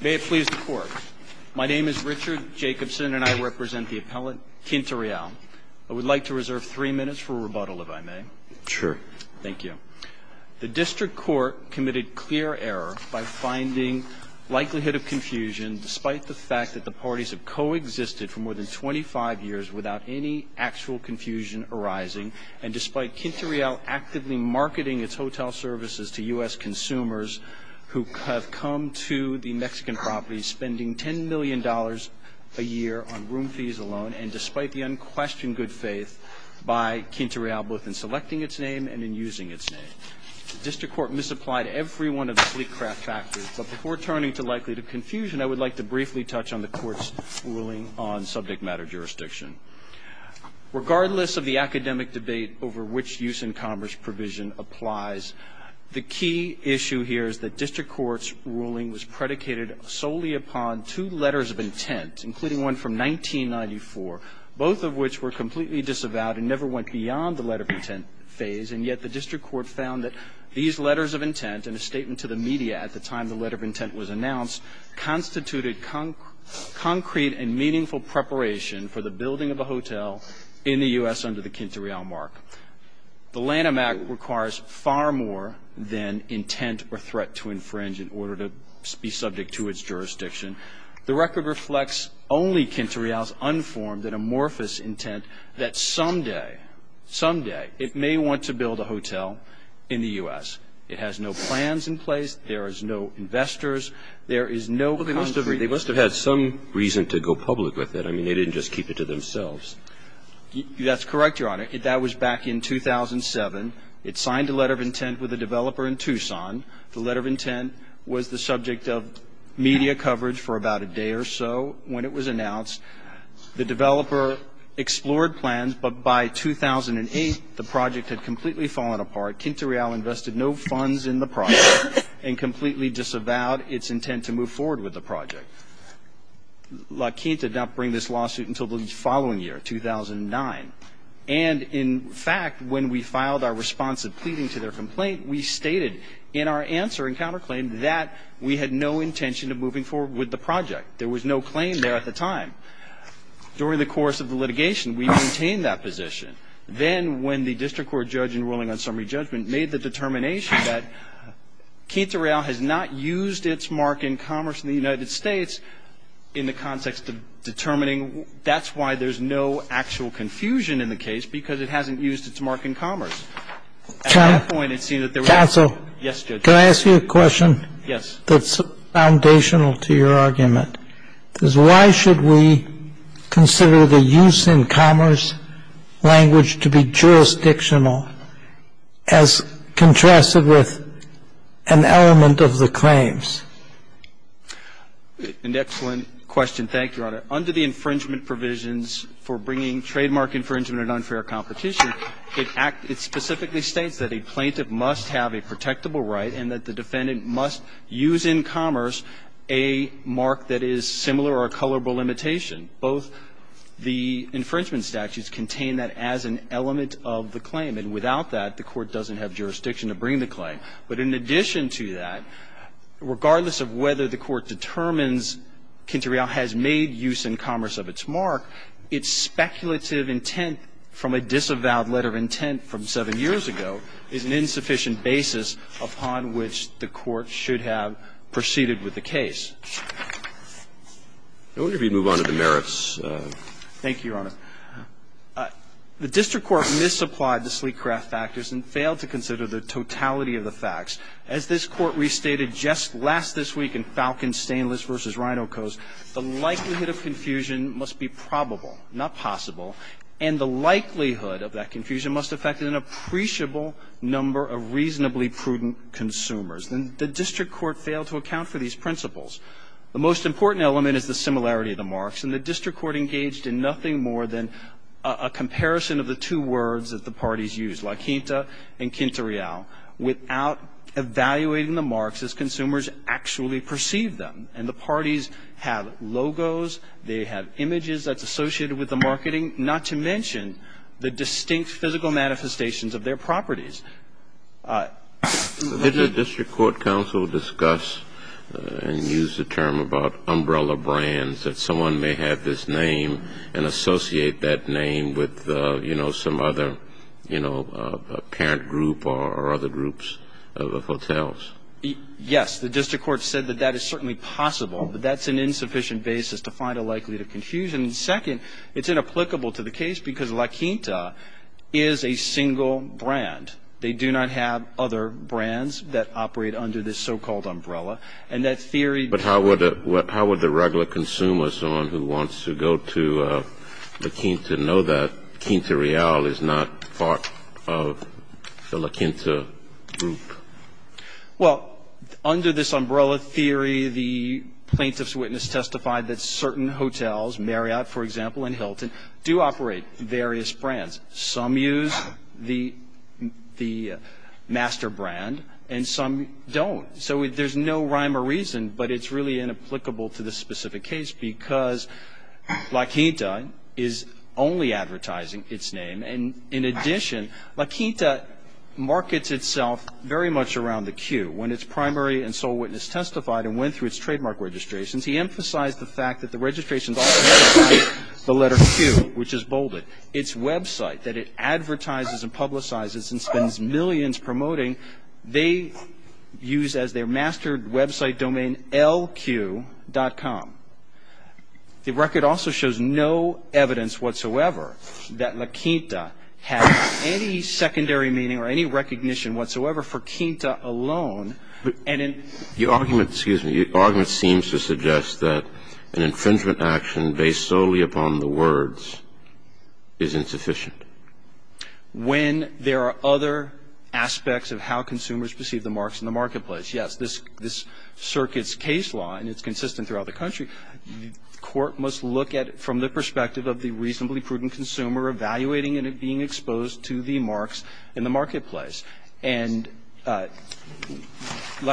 May it please the Court. My name is Richard Jacobson and I represent the appellant, Quinta Real. I would like to reserve three minutes for a rebuttal, if I may. Sure. Thank you. The District Court committed clear error by finding likelihood of confusion, despite the fact that the parties have coexisted for more than 25 years without any actual confusion arising, and despite Quinta Real actively marketing its hotel services to U.S. consumers who have come to the Mexican properties spending $10 million a year on room fees alone, and despite the unquestioned good faith by Quinta Real, both in selecting its name and in using its name. The District Court misapplied every one of the three factors, but before turning to likelihood of confusion, I would like to briefly touch on the Court's ruling on subject matter jurisdiction. Regardless of the academic debate over which use in commerce provision applies, the key issue here is that District Court's ruling was predicated solely upon two letters of intent, including one from 1994, both of which were completely disavowed and never went beyond the letter of intent phase, and yet the District Court found that these letters of intent and a statement to the media at the time the letter of intent was announced constituted concrete and meaningful preparation for the building of a hotel in the U.S. under the Quinta Real mark. The Lanham Act requires far more than intent or threat to infringe in order to be subject to its jurisdiction. The record reflects only Quinta Real's unformed and amorphous intent that someday, someday, it may want to build a hotel in the U.S. It has no plans in place. There is no investors. There is no country. They must have had some reason to go public with it. I mean, they didn't just keep it to themselves. That's correct, Your Honor. That was back in 2007. It signed a letter of intent with a developer in Tucson. The letter of intent was the subject of media coverage for about a day or so when it was announced. The developer explored plans, but by 2008, the project had completely fallen apart. Quinta Real invested no funds in the project and completely disavowed its intent to move forward with the project. La Quinta did not bring this lawsuit until the following year, 2009. And, in fact, when we filed our responsive pleading to their complaint, we stated in our answer and counterclaim that we had no intention of moving forward with the project. There was no claim there at the time. During the course of the litigation, we maintained that position. Then, when the district court judge in ruling on summary judgment made the determination that Quinta Real has not used its mark in commerce in the United States in the context of determining, that's why there's no actual confusion in the case, because it hasn't used its mark in commerce. At that point, it seemed that there was no confusion. Yes, Judge. Can I ask you a question? Yes. The question is, why should we consider the use in commerce language to be jurisdictional as contrasted with an element of the claims? An excellent question. Thank you, Your Honor. Under the infringement provisions for bringing trademark infringement and unfair competition, it specifically states that a plaintiff must have a protectable right and that the defendant must use in commerce a mark that is similar or a colorable imitation. Both the infringement statutes contain that as an element of the claim. And without that, the court doesn't have jurisdiction to bring the claim. But in addition to that, regardless of whether the court determines Quinta Real has made use in commerce of its mark, its speculative intent from a disavowed letter of intent from seven years ago is an insufficient basis upon which the court should have proceeded with the case. I wonder if you'd move on to the merits. Thank you, Your Honor. The district court misapplied the sleek craft factors and failed to consider the totality of the facts. As this Court restated just last this week in Falcon Stainless v. Rhinocos, the likelihood of confusion must be probable, not possible. And the likelihood of that confusion must affect an appreciable number of reasonably prudent consumers. And the district court failed to account for these principles. The most important element is the similarity of the marks. And the district court engaged in nothing more than a comparison of the two words that the parties used, La Quinta and Quinta Real, without evaluating the marks as consumers actually perceived them. And the parties have logos, they have images that's associated with the marketing, not to mention the distinct physical manifestations of their properties. Did the district court counsel discuss and use the term about umbrella brands, that someone may have this name and associate that name with, you know, some other, you know, parent group or other groups of hotels? Yes. The district court said that that is certainly possible, but that's an insufficient basis to find a likelihood of confusion. And second, it's inapplicable to the case because La Quinta is a single brand. They do not have other brands that operate under this so-called umbrella. And that's theory. But how would the regular consumer, someone who wants to go to La Quinta, to know that Quinta Real is not part of the La Quinta group? Well, under this umbrella theory, the plaintiff's witness testified that certain hotels, Marriott, for example, and Hilton, do operate various brands. Some use the master brand and some don't. So there's no rhyme or reason, but it's really inapplicable to this specific case because La Quinta is only advertising its name. And in addition, La Quinta markets itself very much around the Q. When its primary and sole witness testified and went through its trademark registrations, he emphasized the fact that the registrations also have the letter Q, which is bolded. Its website that it advertises and publicizes and spends millions promoting, they use as their mastered website domain LQ.com. The record also shows no evidence whatsoever that La Quinta has any secondary meaning or any recognition whatsoever for Quinta alone. But the argument seems to suggest that an infringement action based solely upon the words is insufficient. When there are other aspects of how consumers perceive the marks in the marketplace, yes, this circuit's case law, and it's consistent throughout the country, the court must look at it from the perspective of the reasonably prudent consumer evaluating and being exposed to the marks in the marketplace. And La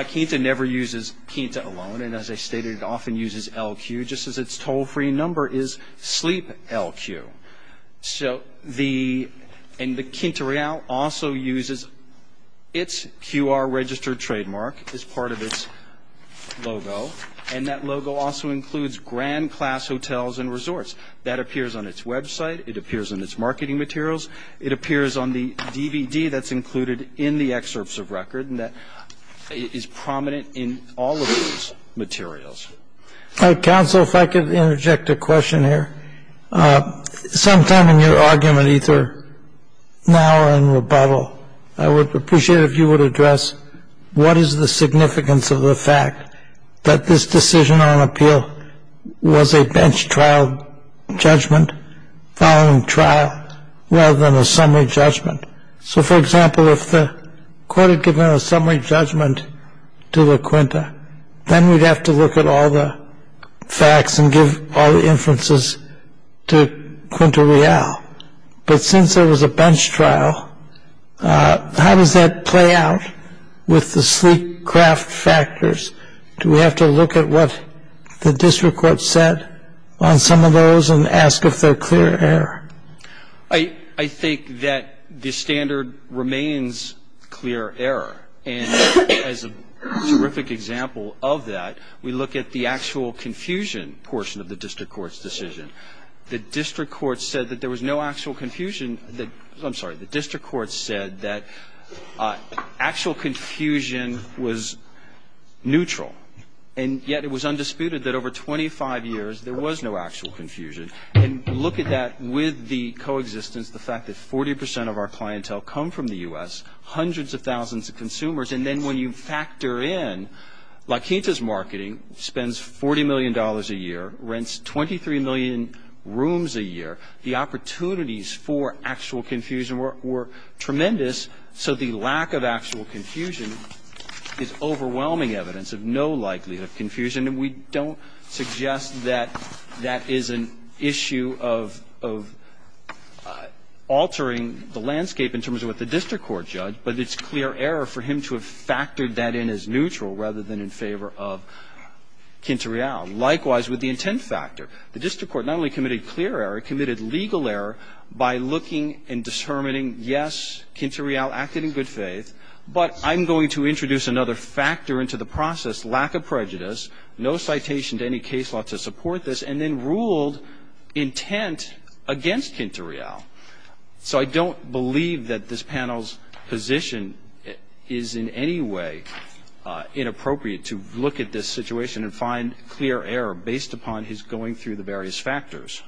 Quinta never uses Quinta alone, and as I stated, it often uses LQ, just as its toll-free number is Sleep LQ. So the Quinta Real also uses its QR registered trademark as part of its logo, and that logo also includes grand class hotels and resorts. That appears on its website. It appears on its marketing materials. It appears on the DVD that's included in the excerpts of record, and that is prominent in all of those materials. Counsel, if I could interject a question here. Sometime in your argument, either now or in rebuttal, I would appreciate if you would address what is the significance of the fact that this decision on appeal was a bench trial judgment following trial rather than a summary judgment. So, for example, if the court had given a summary judgment to La Quinta, then we'd have to look at all the facts and give all the inferences to Quinta Real. But since there was a bench trial, how does that play out with the sleep-craft factors? Do we have to look at what the district court said on some of those and ask if they're clear error? I think that the standard remains clear error. And as a terrific example of that, we look at the actual confusion portion of the district court's decision. The district court said that there was no actual confusion. I'm sorry. The district court said that actual confusion was neutral, and yet it was undisputed that over 25 years there was no actual confusion. And look at that with the coexistence, the fact that 40 percent of our clientele come from the U.S., hundreds of thousands of consumers, and then when you factor in La Quinta's marketing, spends $40 million a year, rents 23 million rooms a year, the opportunities for actual confusion were tremendous. So the lack of actual confusion is overwhelming evidence of no likelihood of confusion. And we don't suggest that that is an issue of altering the landscape in terms of what the district court judged, but it's clear error for him to have factored that in as neutral rather than in favor of Quinta Real. Likewise with the intent factor. The district court not only committed clear error, it committed legal error by looking and determining, yes, Quinta Real acted in good faith, but I'm going to introduce another factor into the process, lack of prejudice, no citation to any case law to support this, and then ruled intent against Quinta Real. So I don't believe that this panel's position is in any way inappropriate to look at this situation and find clear error based upon his going through the various factors.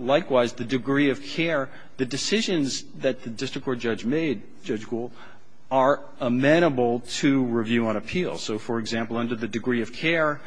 Likewise, the degree of care, the decisions that the district court judge made, Judge Gould, are amenable to review and appeal. So, for example, under the degree of care,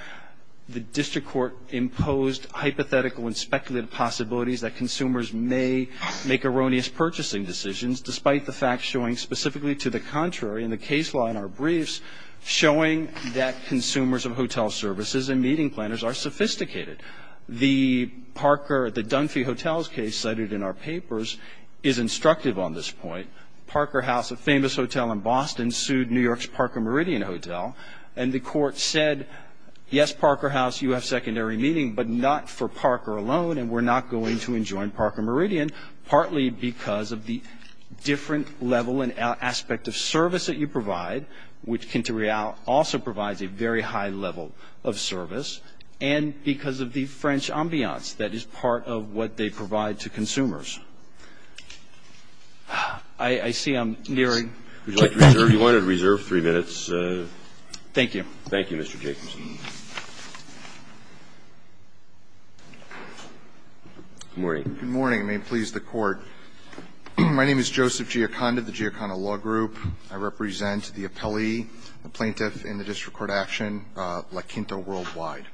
the district court imposed hypothetical and speculative possibilities that consumers may make erroneous purchasing decisions, despite the fact showing specifically to the contrary in the case law in our briefs, showing that consumers of hotel services and meeting planners are sophisticated. The Parker, the Dunphy Hotels case cited in our papers is instructive on this point. Parker House, a famous hotel in Boston, sued New York's Parker Meridian Hotel, and the court said, yes, Parker House, you have secondary meaning, but not for Parker alone and we're not going to enjoin Parker Meridian, partly because of the different level and aspect of service that you provide, which Quinta Real also provides a very high level of service, and because of the French ambiance that is part of what they provide to consumers. I see I'm nearing. Would you like to reserve? You wanted to reserve three minutes. Thank you. Thank you, Mr. Jacobson. Good morning. Good morning, and may it please the Court. My name is Joseph Giaconda of the Giaconda Law Group. I represent the appellee, the plaintiff in the district court action, La Quinta Worldwide.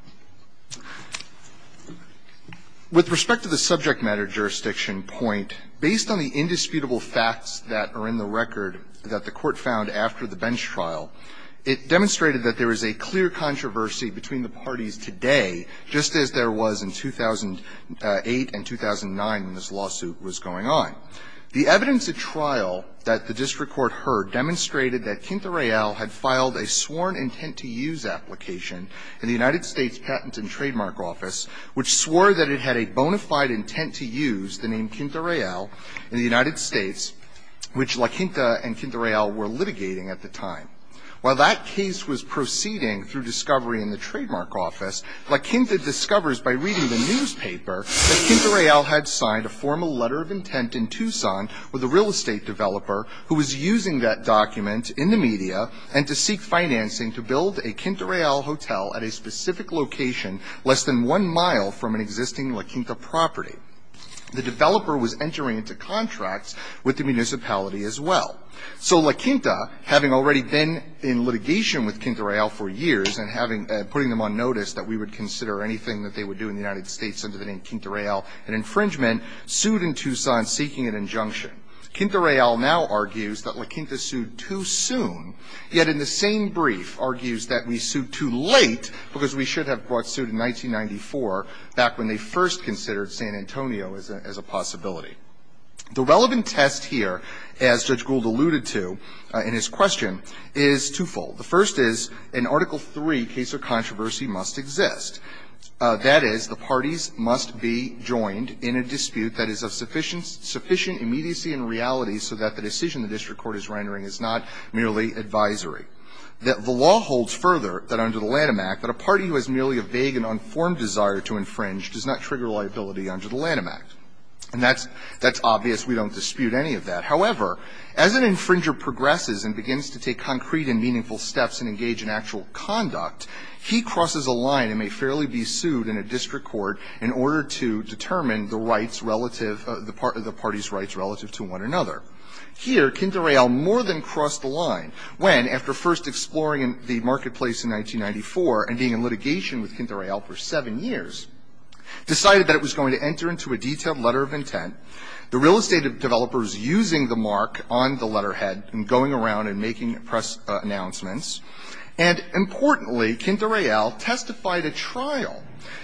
With respect to the subject matter jurisdiction point, based on the indisputable facts that are in the record that the court found after the bench trial, it demonstrated that there is a clear controversy between the parties today, just as there was in 2008 and 2009 when this lawsuit was going on. The evidence at trial that the district court heard demonstrated that Quinta Real had filed a sworn intent-to-use application in the United States Patent and Trademark Office, which swore that it had a bona fide intent-to-use, the name Quinta Real, in the United States, which La Quinta and Quinta Real were litigating at the time. While that case was proceeding through discovery in the Trademark Office, La Quinta discovers by reading the newspaper that Quinta Real had signed a formal letter of intent in Tucson with a real estate developer who was using that document in the media and to seek financing to build a Quinta Real hotel at a specific location less than one mile from an existing La Quinta property. The developer was entering into contracts with the municipality as well. So La Quinta, having already been in litigation with Quinta Real for years and putting them on notice that we would consider anything that they would do in the United States under the name Quinta Real an infringement, sued in Tucson seeking an injunction. Quinta Real now argues that La Quinta sued too soon, yet in the same brief argues that we sued too late because we should have brought suit in 1994, back when they first considered San Antonio as a possibility. The relevant test here, as Judge Gould alluded to in his question, is twofold. The first is, in Article III, case of controversy must exist. That is, the parties must be joined in a dispute that is of sufficient immediacy and reality so that the decision the district court is rendering is not merely advisory. The law holds further that under the Lanham Act that a party who has merely a vague and unformed desire to infringe does not trigger liability under the Lanham Act. And that's obvious. We don't dispute any of that. However, as an infringer progresses and begins to take concrete and meaningful steps and engage in actual conduct, he crosses a line and may fairly be sued in a district court in order to determine the rights relative, the parties' rights relative to one another. Here, Quinta Real more than crossed the line when, after first exploring the marketplace in 1994 and being in litigation with Quinta Real for seven years, decided that it was going to enter into a detailed letter of intent, the real estate developers using the mark on the letterhead and going around and making press announcements, and importantly, Quinta Real testified at trial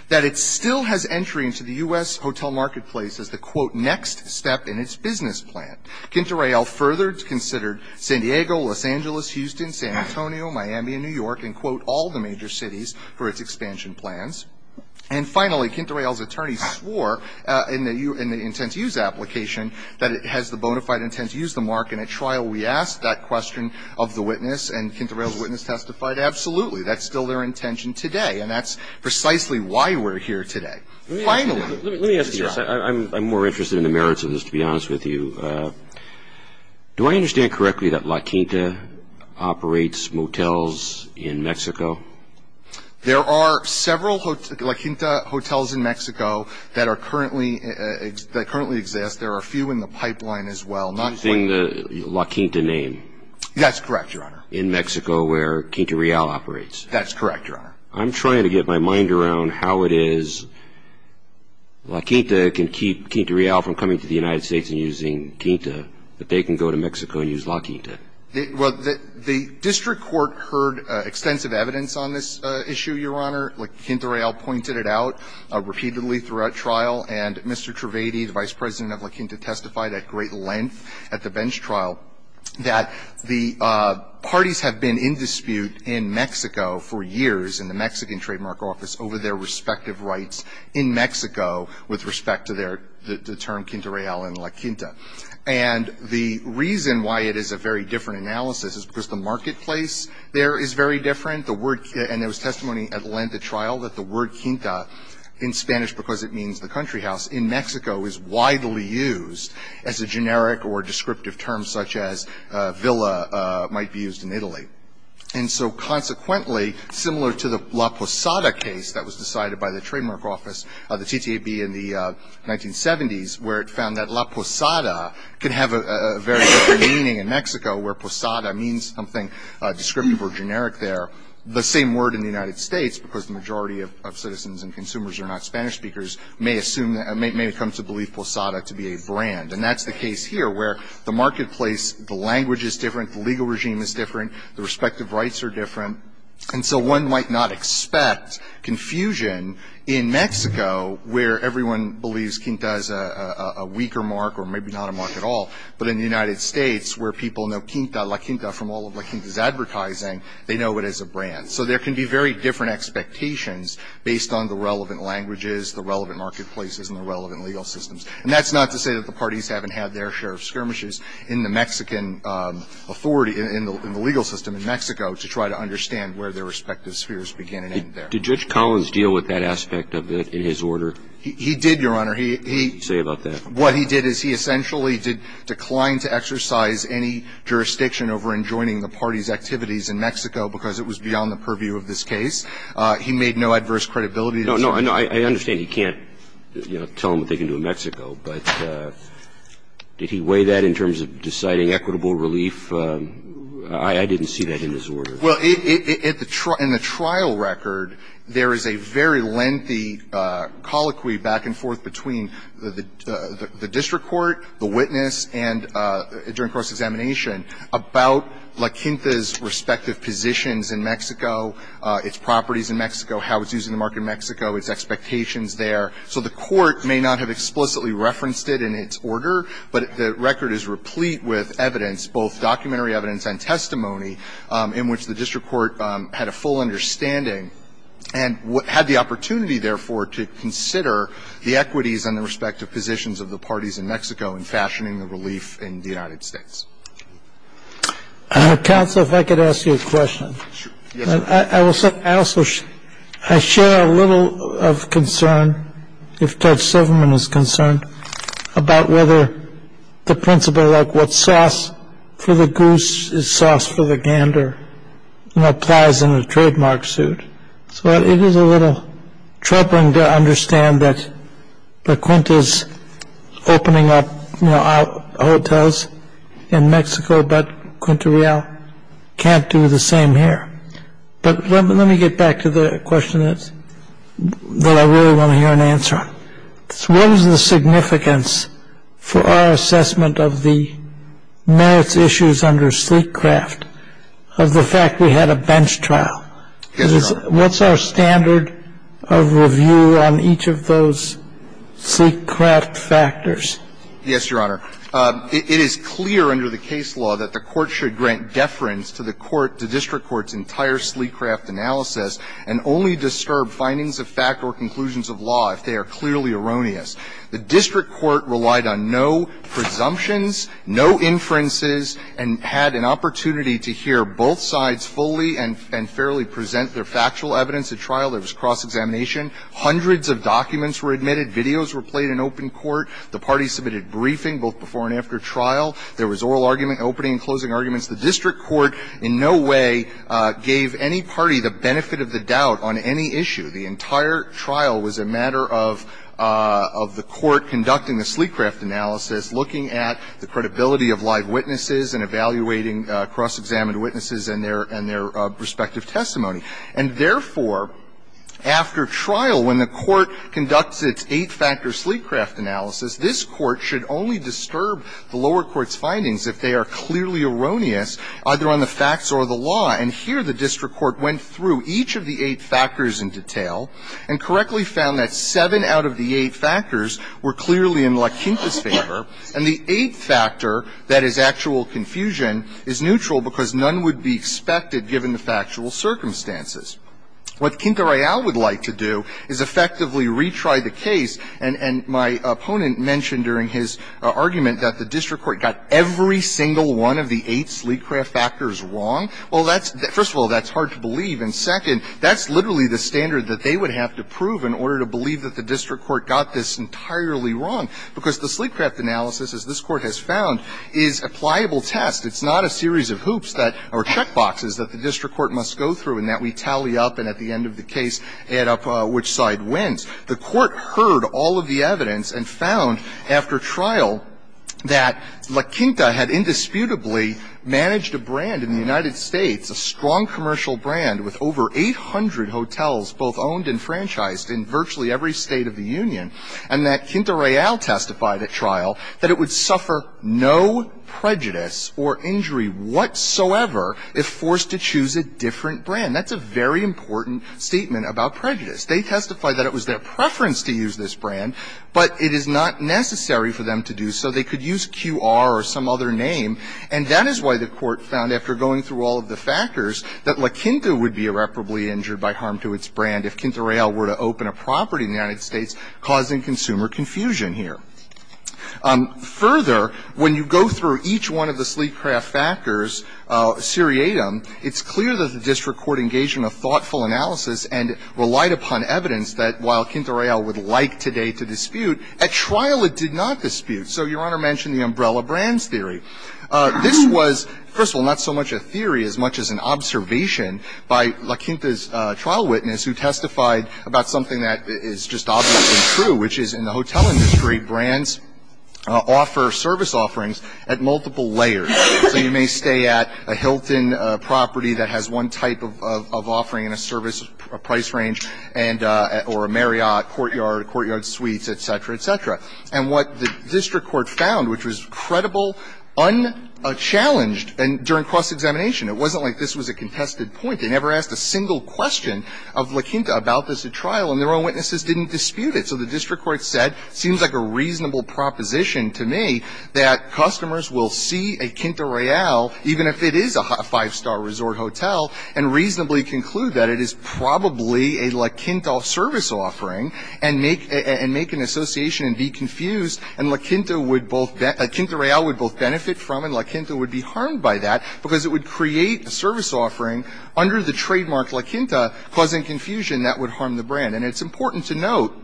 that it still has entry into the U.S. hotel marketplace as the, quote, next step in its business plan. Quinta Real further considered San Diego, Los Angeles, Houston, San Antonio, Miami and New York and, quote, all the major cities for its expansion plans. And finally, Quinta Real's attorneys swore in the intent to use application that it has the bona fide intent to use the mark. And at trial, we asked that question of the witness, and Quinta Real's witness testified, absolutely, that's still their intention today, and that's precisely why we're here today. Finally. Let me ask you this. I'm more interested in the merits of this, to be honest with you. Do I understand correctly that La Quinta operates motels in Mexico? There are several La Quinta hotels in Mexico that currently exist. There are a few in the pipeline as well. Using the La Quinta name. That's correct, Your Honor. In Mexico where Quinta Real operates. That's correct, Your Honor. I'm trying to get my mind around how it is La Quinta can keep Quinta Real from coming to the United States and using Quinta, but they can go to Mexico and use La Quinta. Well, the district court heard extensive evidence on this issue, Your Honor. La Quinta Real pointed it out repeatedly throughout trial. And Mr. Trivedi, the Vice President of La Quinta, testified at great length at the bench trial that the parties have been in dispute in Mexico for years in the Mexican Trademark Office over their respective rights in Mexico with respect to their term Quinta Real and La Quinta. And the reason why it is a very different analysis is because the marketplace there is very different. And there was testimony at length at trial that the word Quinta in Spanish because it means the country house in Mexico is widely used as a generic or descriptive term such as villa might be used in Italy. And so consequently, similar to the La Posada case that was decided by the Trademark Office of the TTAB in the 1970s where it found that La Posada could have a very different meaning in Mexico where Posada means something descriptive or generic there. The same word in the United States, because the majority of citizens and consumers are not Spanish speakers, may assume that, may come to believe Posada to be a brand. And that's the case here where the marketplace, the language is different, the legal regime is different, the respective rights are different. And so one might not expect confusion in Mexico where everyone believes Quinta as a weaker mark or maybe not a mark at all. But in the United States where people know Quinta, La Quinta from all of La Quinta's advertising, they know it as a brand. So there can be very different expectations based on the relevant languages, the relevant marketplaces and the relevant legal systems. And that's not to say that the parties haven't had their share of skirmishes in the Mexican authority, in the legal system in Mexico to try to understand where their respective spheres begin and end there. Did Judge Collins deal with that aspect of it in his order? He did, Your Honor. Say about that. What he did is he essentially did decline to exercise any jurisdiction over enjoining the parties' activities in Mexico because it was beyond the purview of this case. He made no adverse credibility. No, no. I understand he can't, you know, tell them what they can do in Mexico. But did he weigh that in terms of deciding equitable relief? I didn't see that in his order. Well, in the trial record, there is a very lengthy colloquy back and forth between the district court, the witness, and during cross-examination about La Quinta's respective positions in Mexico, its properties in Mexico, how it's using the market in Mexico, its expectations there. So the court may not have explicitly referenced it in its order, but the record is replete with evidence, both documentary evidence and testimony, in which the district court had a full understanding and had the opportunity, therefore, to consider the equities and the respective positions of the parties in Mexico in fashioning the relief in the United States. Counsel, if I could ask you a question. Yes, sir. I will say I also share a little of concern, if Judge Silverman is concerned, about whether the principle like what's sauce for the goose is sauce for the gander applies in a trademark suit. So it is a little troubling to understand that La Quinta's opening up hotels in Mexico, but Quinta Real can't do the same here. But let me get back to the question that I really want to hear an answer on. What is the significance for our assessment of the merits issues under Sleekcraft of the fact we had a bench trial? Yes, Your Honor. What's our standard of review on each of those Sleekcraft factors? Yes, Your Honor. It is clear under the case law that the court should grant deference to the court to district court's entire Sleekcraft analysis and only disturb findings of fact or conclusions of law if they are clearly erroneous. The district court relied on no presumptions, no inferences, and had an opportunity to hear both sides fully and fairly present their factual evidence at trial. There was cross-examination. Hundreds of documents were admitted. Videos were played in open court. The parties submitted briefing both before and after trial. There was oral argument, opening and closing arguments. The district court in no way gave any party the benefit of the doubt on any issue. The entire trial was a matter of the court conducting the Sleekcraft analysis, looking at the credibility of live witnesses, and evaluating cross-examined witnesses and their respective testimony. And therefore, after trial, when the court conducts its eight-factor Sleekcraft analysis, this court should only disturb the lower court's findings if they are clearly erroneous, either on the facts or the law. And here, the district court went through each of the eight factors in detail and correctly found that seven out of the eight factors were clearly in LaQuinta's favor, and the eighth factor, that is, actual confusion, is neutral because none would be expected, given the factual circumstances. What Quinta Real would like to do is effectively retry the case, and my opponent mentioned during his argument that the district court got every single one of the eight Sleekcraft factors wrong. Well, that's the – first of all, that's hard to believe, and second, that's literally the standard that they would have to prove in order to believe that the district court got this entirely wrong, because the Sleekcraft analysis, as this Court has found, is a pliable test. It's not a series of hoops that – or checkboxes that the district court must go through and that we tally up and at the end of the case add up which side wins. The court heard all of the evidence and found, after trial, that LaQuinta had indisputably managed a brand in the United States, a strong commercial brand with over 800 hotels both owned and franchised in virtually every state of the union, and that Quinta Real testified at trial that it would suffer no prejudice or injury whatsoever if forced to choose a different brand. That's a very important statement about prejudice. They testified that it was their preference to use this brand, but it is not necessary for them to do so. They could use Q.R. or some other name, and that is why the court found, after going through all of the factors, that LaQuinta would be irreparably injured by harm to its brand if Quinta Real were to open a property in the United States, causing consumer confusion here. Further, when you go through each one of the Sleekcraft factors, seriatim, it's clear that the district court engaged in a thoughtful analysis and relied upon evidence that, while Quinta Real would like today to dispute, at trial it did not dispute. So Your Honor mentioned the umbrella brands theory. This was, first of all, not so much a theory as much as an observation by LaQuinta's trial witness, who testified about something that is just obviously true, which is in the hotel industry, brands offer service offerings at multiple layers. So you may stay at a Hilton property that has one type of offering in a service price range, and or a Marriott courtyard, courtyard suites, et cetera, et cetera. And what the district court found, which was credible, unchallenged, and during cross-examination, it wasn't like this was a contested point. They never asked a single question of LaQuinta about this at trial, and their own witnesses didn't dispute it. So the district court said, it seems like a reasonable proposition to me that customers will see a Quinta Real, even if it is a five-star resort hotel, and reasonably conclude that it is probably a LaQuinta service offering and make an association and be confused, and LaQuinta would both be – LaQuinta Real would both benefit from and LaQuinta would be harmed by that because it would create a service offering under the trademark LaQuinta, causing confusion that would harm the brand. And it's important to note,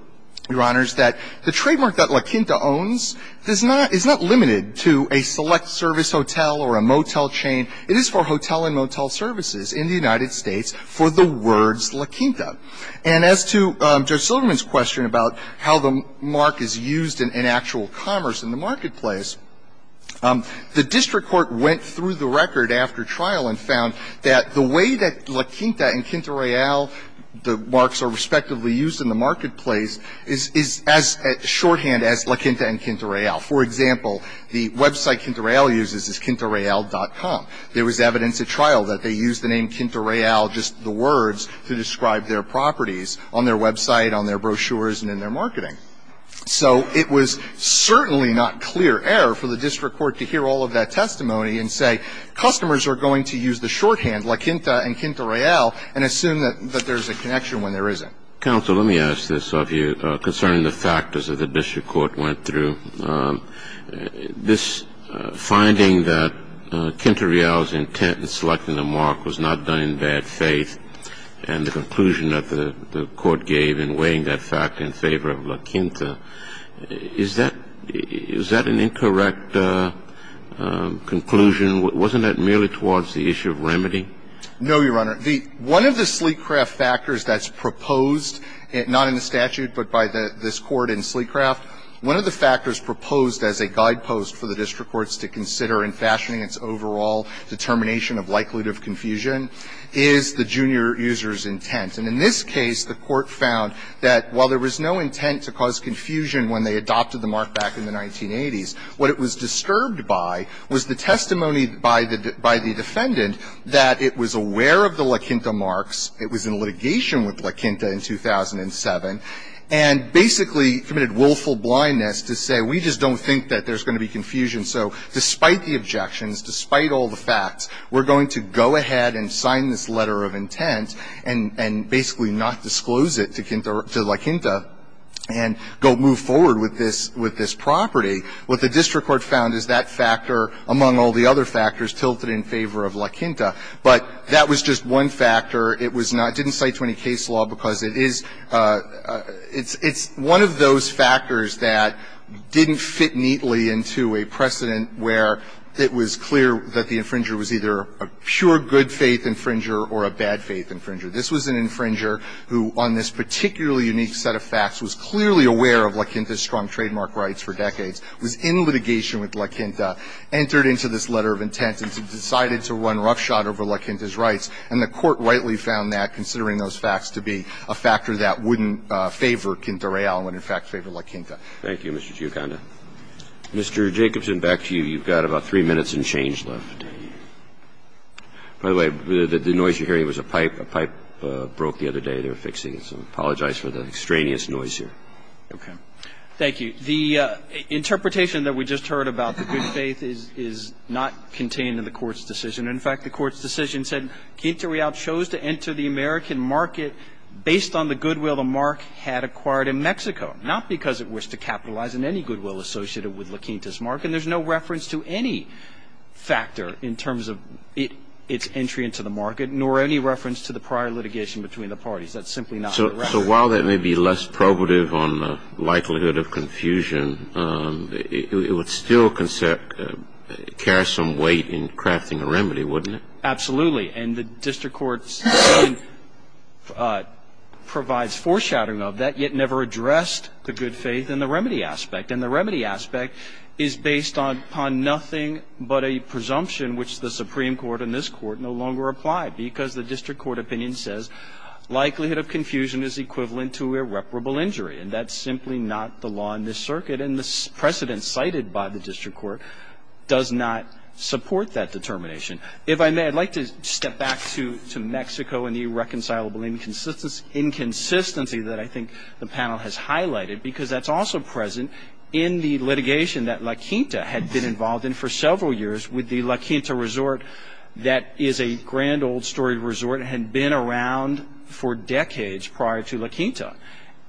Your Honors, that the trademark that LaQuinta owns is not – is not limited to a select service hotel or a motel chain. It is for hotel and motel services in the United States for the words LaQuinta. And as to Judge Silverman's question about how the mark is used in actual commerce in the marketplace, the district court went through the record after trial and found that the way that LaQuinta and Quinta Real, the marks are respectively used in the marketplace, is as shorthand as LaQuinta and Quinta Real. For example, the website Quinta Real uses is QuintaReal.com. There was evidence at trial that they used the name Quinta Real, just the words, to describe their properties on their website, on their brochures, and in their marketing. So it was certainly not clear error for the district court to hear all of that testimony and say, customers are going to use the shorthand LaQuinta and Quinta Real and assume that there's a connection when there isn't. Counsel, let me ask this of you concerning the factors that the district court went through. This finding that Quinta Real's intent in selecting the mark was not done in bad faith. And the conclusion that the court gave in weighing that fact in favor of LaQuinta, is that an incorrect conclusion? Wasn't that merely towards the issue of remedy? No, Your Honor. One of the Sleecraft factors that's proposed, not in the statute but by this Court in Sleecraft, one of the factors proposed as a guidepost for the district courts to consider in fashioning its overall determination of likelihood of confusion is the junior user's intent. And in this case, the court found that while there was no intent to cause confusion when they adopted the mark back in the 1980s, what it was disturbed by was the testimony by the defendant that it was aware of the LaQuinta marks, it was in litigation with LaQuinta in 2007, and basically committed willful blindness to say, we just don't think that there's going to be confusion. So despite the objections, despite all the facts, we're going to go ahead and sign this letter of intent and basically not disclose it to LaQuinta and go move forward with this property. What the district court found is that factor, among all the other factors, tilted in favor of LaQuinta. But that was just one factor. It was not – it didn't cite to any case law because it is – it's one of those factors that didn't fit neatly into a precedent where it was clear that the infringer was either a pure good-faith infringer or a bad-faith infringer. This was an infringer who, on this particularly unique set of facts, was clearly aware of LaQuinta's strong trademark rights for decades, was in litigation with LaQuinta, entered into this letter of intent, and decided to run roughshod over LaQuinta's rights. And the court rightly found that, considering those facts, to be a factor that wouldn't favor Quinta Real and, in fact, favor LaQuinta. Roberts. Thank you, Mr. Giugonda. Mr. Jacobson, back to you. You've got about three minutes and change left. By the way, the noise you're hearing was a pipe. A pipe broke the other day. They were fixing it, so I apologize for the extraneous noise here. Okay. Thank you. The interpretation that we just heard about, the good faith, is not contained in the Court's decision. In fact, the Court's decision said Quinta Real chose to enter the American market based on the goodwill the mark had acquired in Mexico, not because it wished to capitalize on any goodwill associated with LaQuinta's mark. And there's no reference to any factor in terms of its entry into the market, nor any reference to the prior litigation between the parties. That's simply not the reference. So while that may be less probative on the likelihood of confusion, it would still cast some weight in crafting a remedy, wouldn't it? Absolutely. And the District Court's decision provides foreshadowing of that, yet never addressed the good faith and the remedy aspect. And the remedy aspect is based upon nothing but a presumption which the Supreme Court and this Court no longer apply, because the District Court opinion says likelihood of confusion is equivalent to irreparable injury. And that's simply not the law in this circuit. And the precedent cited by the District Court does not support that determination. If I may, I'd like to step back to Mexico and the irreconcilable inconsistency that I think the panel has highlighted. Because that's also present in the litigation that LaQuinta had been involved in for several years with the LaQuinta resort that is a grand old story resort. It had been around for decades prior to LaQuinta.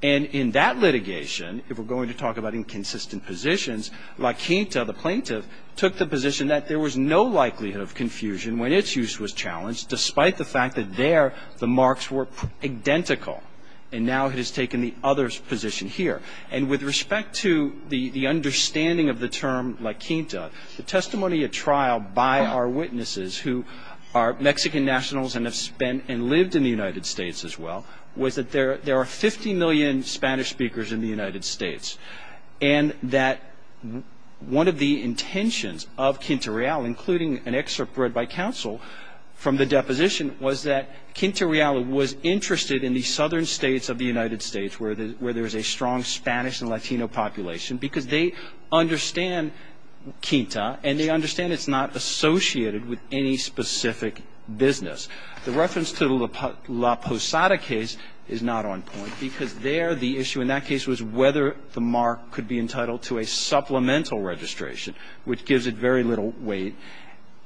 And in that litigation, if we're going to talk about inconsistent positions, LaQuinta, the plaintiff, took the position that there was no likelihood of confusion when its use was challenged, despite the fact that there the marks were identical. And now it has taken the other's position here. And with respect to the understanding of the term LaQuinta, the testimony at trial by our witnesses who are Mexican nationals and have spent and lived in the United States as well, was that there are 50 million Spanish speakers in the United States. And that one of the intentions of Quinta Real, including an excerpt read by counsel from the deposition, was that Quinta Real was interested in the southern states of the United States, where there's a strong Spanish and Latino population. Because they understand Quinta, and they understand it's not associated with any specific business. The reference to the La Posada case is not on point, because there the issue in that case was whether the mark could be entitled to a supplemental registration, which gives it very little weight.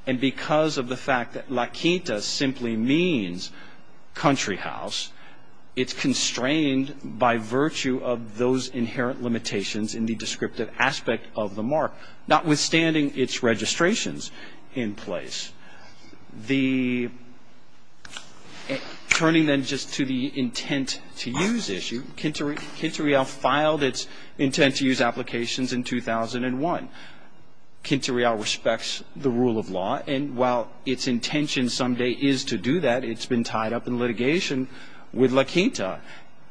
And because of the fact that LaQuinta simply means country house, it's constrained by virtue of those inherent limitations in the descriptive aspect of the mark, notwithstanding its registrations in place. Turning then just to the intent to use issue, Quinta Real filed its intent to use applications in 2001. Quinta Real respects the rule of law, and while its intention someday is to do that, it's been tied up in litigation with LaQuinta.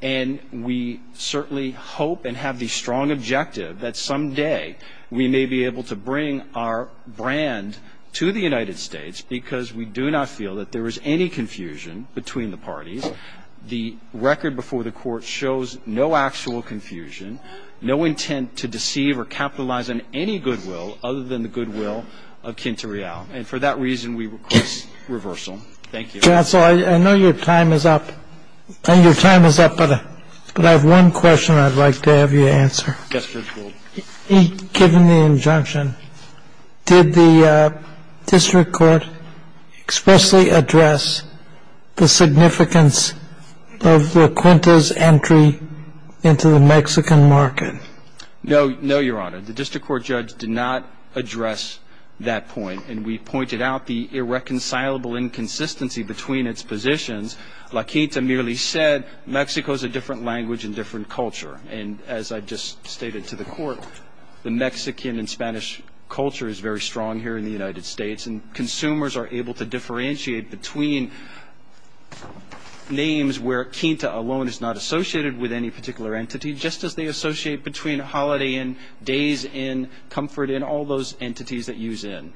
And we certainly hope and have the strong objective that someday we may be able to bring our brand to the United States, because we do not feel that there is any confusion between the parties. The record before the court shows no actual confusion, no intent to deceive or capitalize on any goodwill other than the goodwill of Quinta Real. And for that reason, we request reversal. Thank you. I know your time is up, but I have one question I'd like to have you answer. Yes, Judge Gould. Given the injunction, did the district court expressly address the significance of LaQuinta's entry into the Mexican market? No, no, your honor. The district court judge did not address that point, and we pointed out the irreconcilable inconsistency between its positions. LaQuinta merely said Mexico's a different language and different culture. And as I just stated to the court, the Mexican and Spanish culture is very strong here in the United States. And consumers are able to differentiate between names where Quinta alone is not associated with any particular entity, just as they associate between a holiday in, days in, comfort in, all those entities that use in.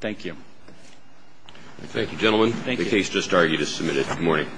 Thank you. Thank you, gentlemen. Thank you. The case just argued is submitted. Good morning.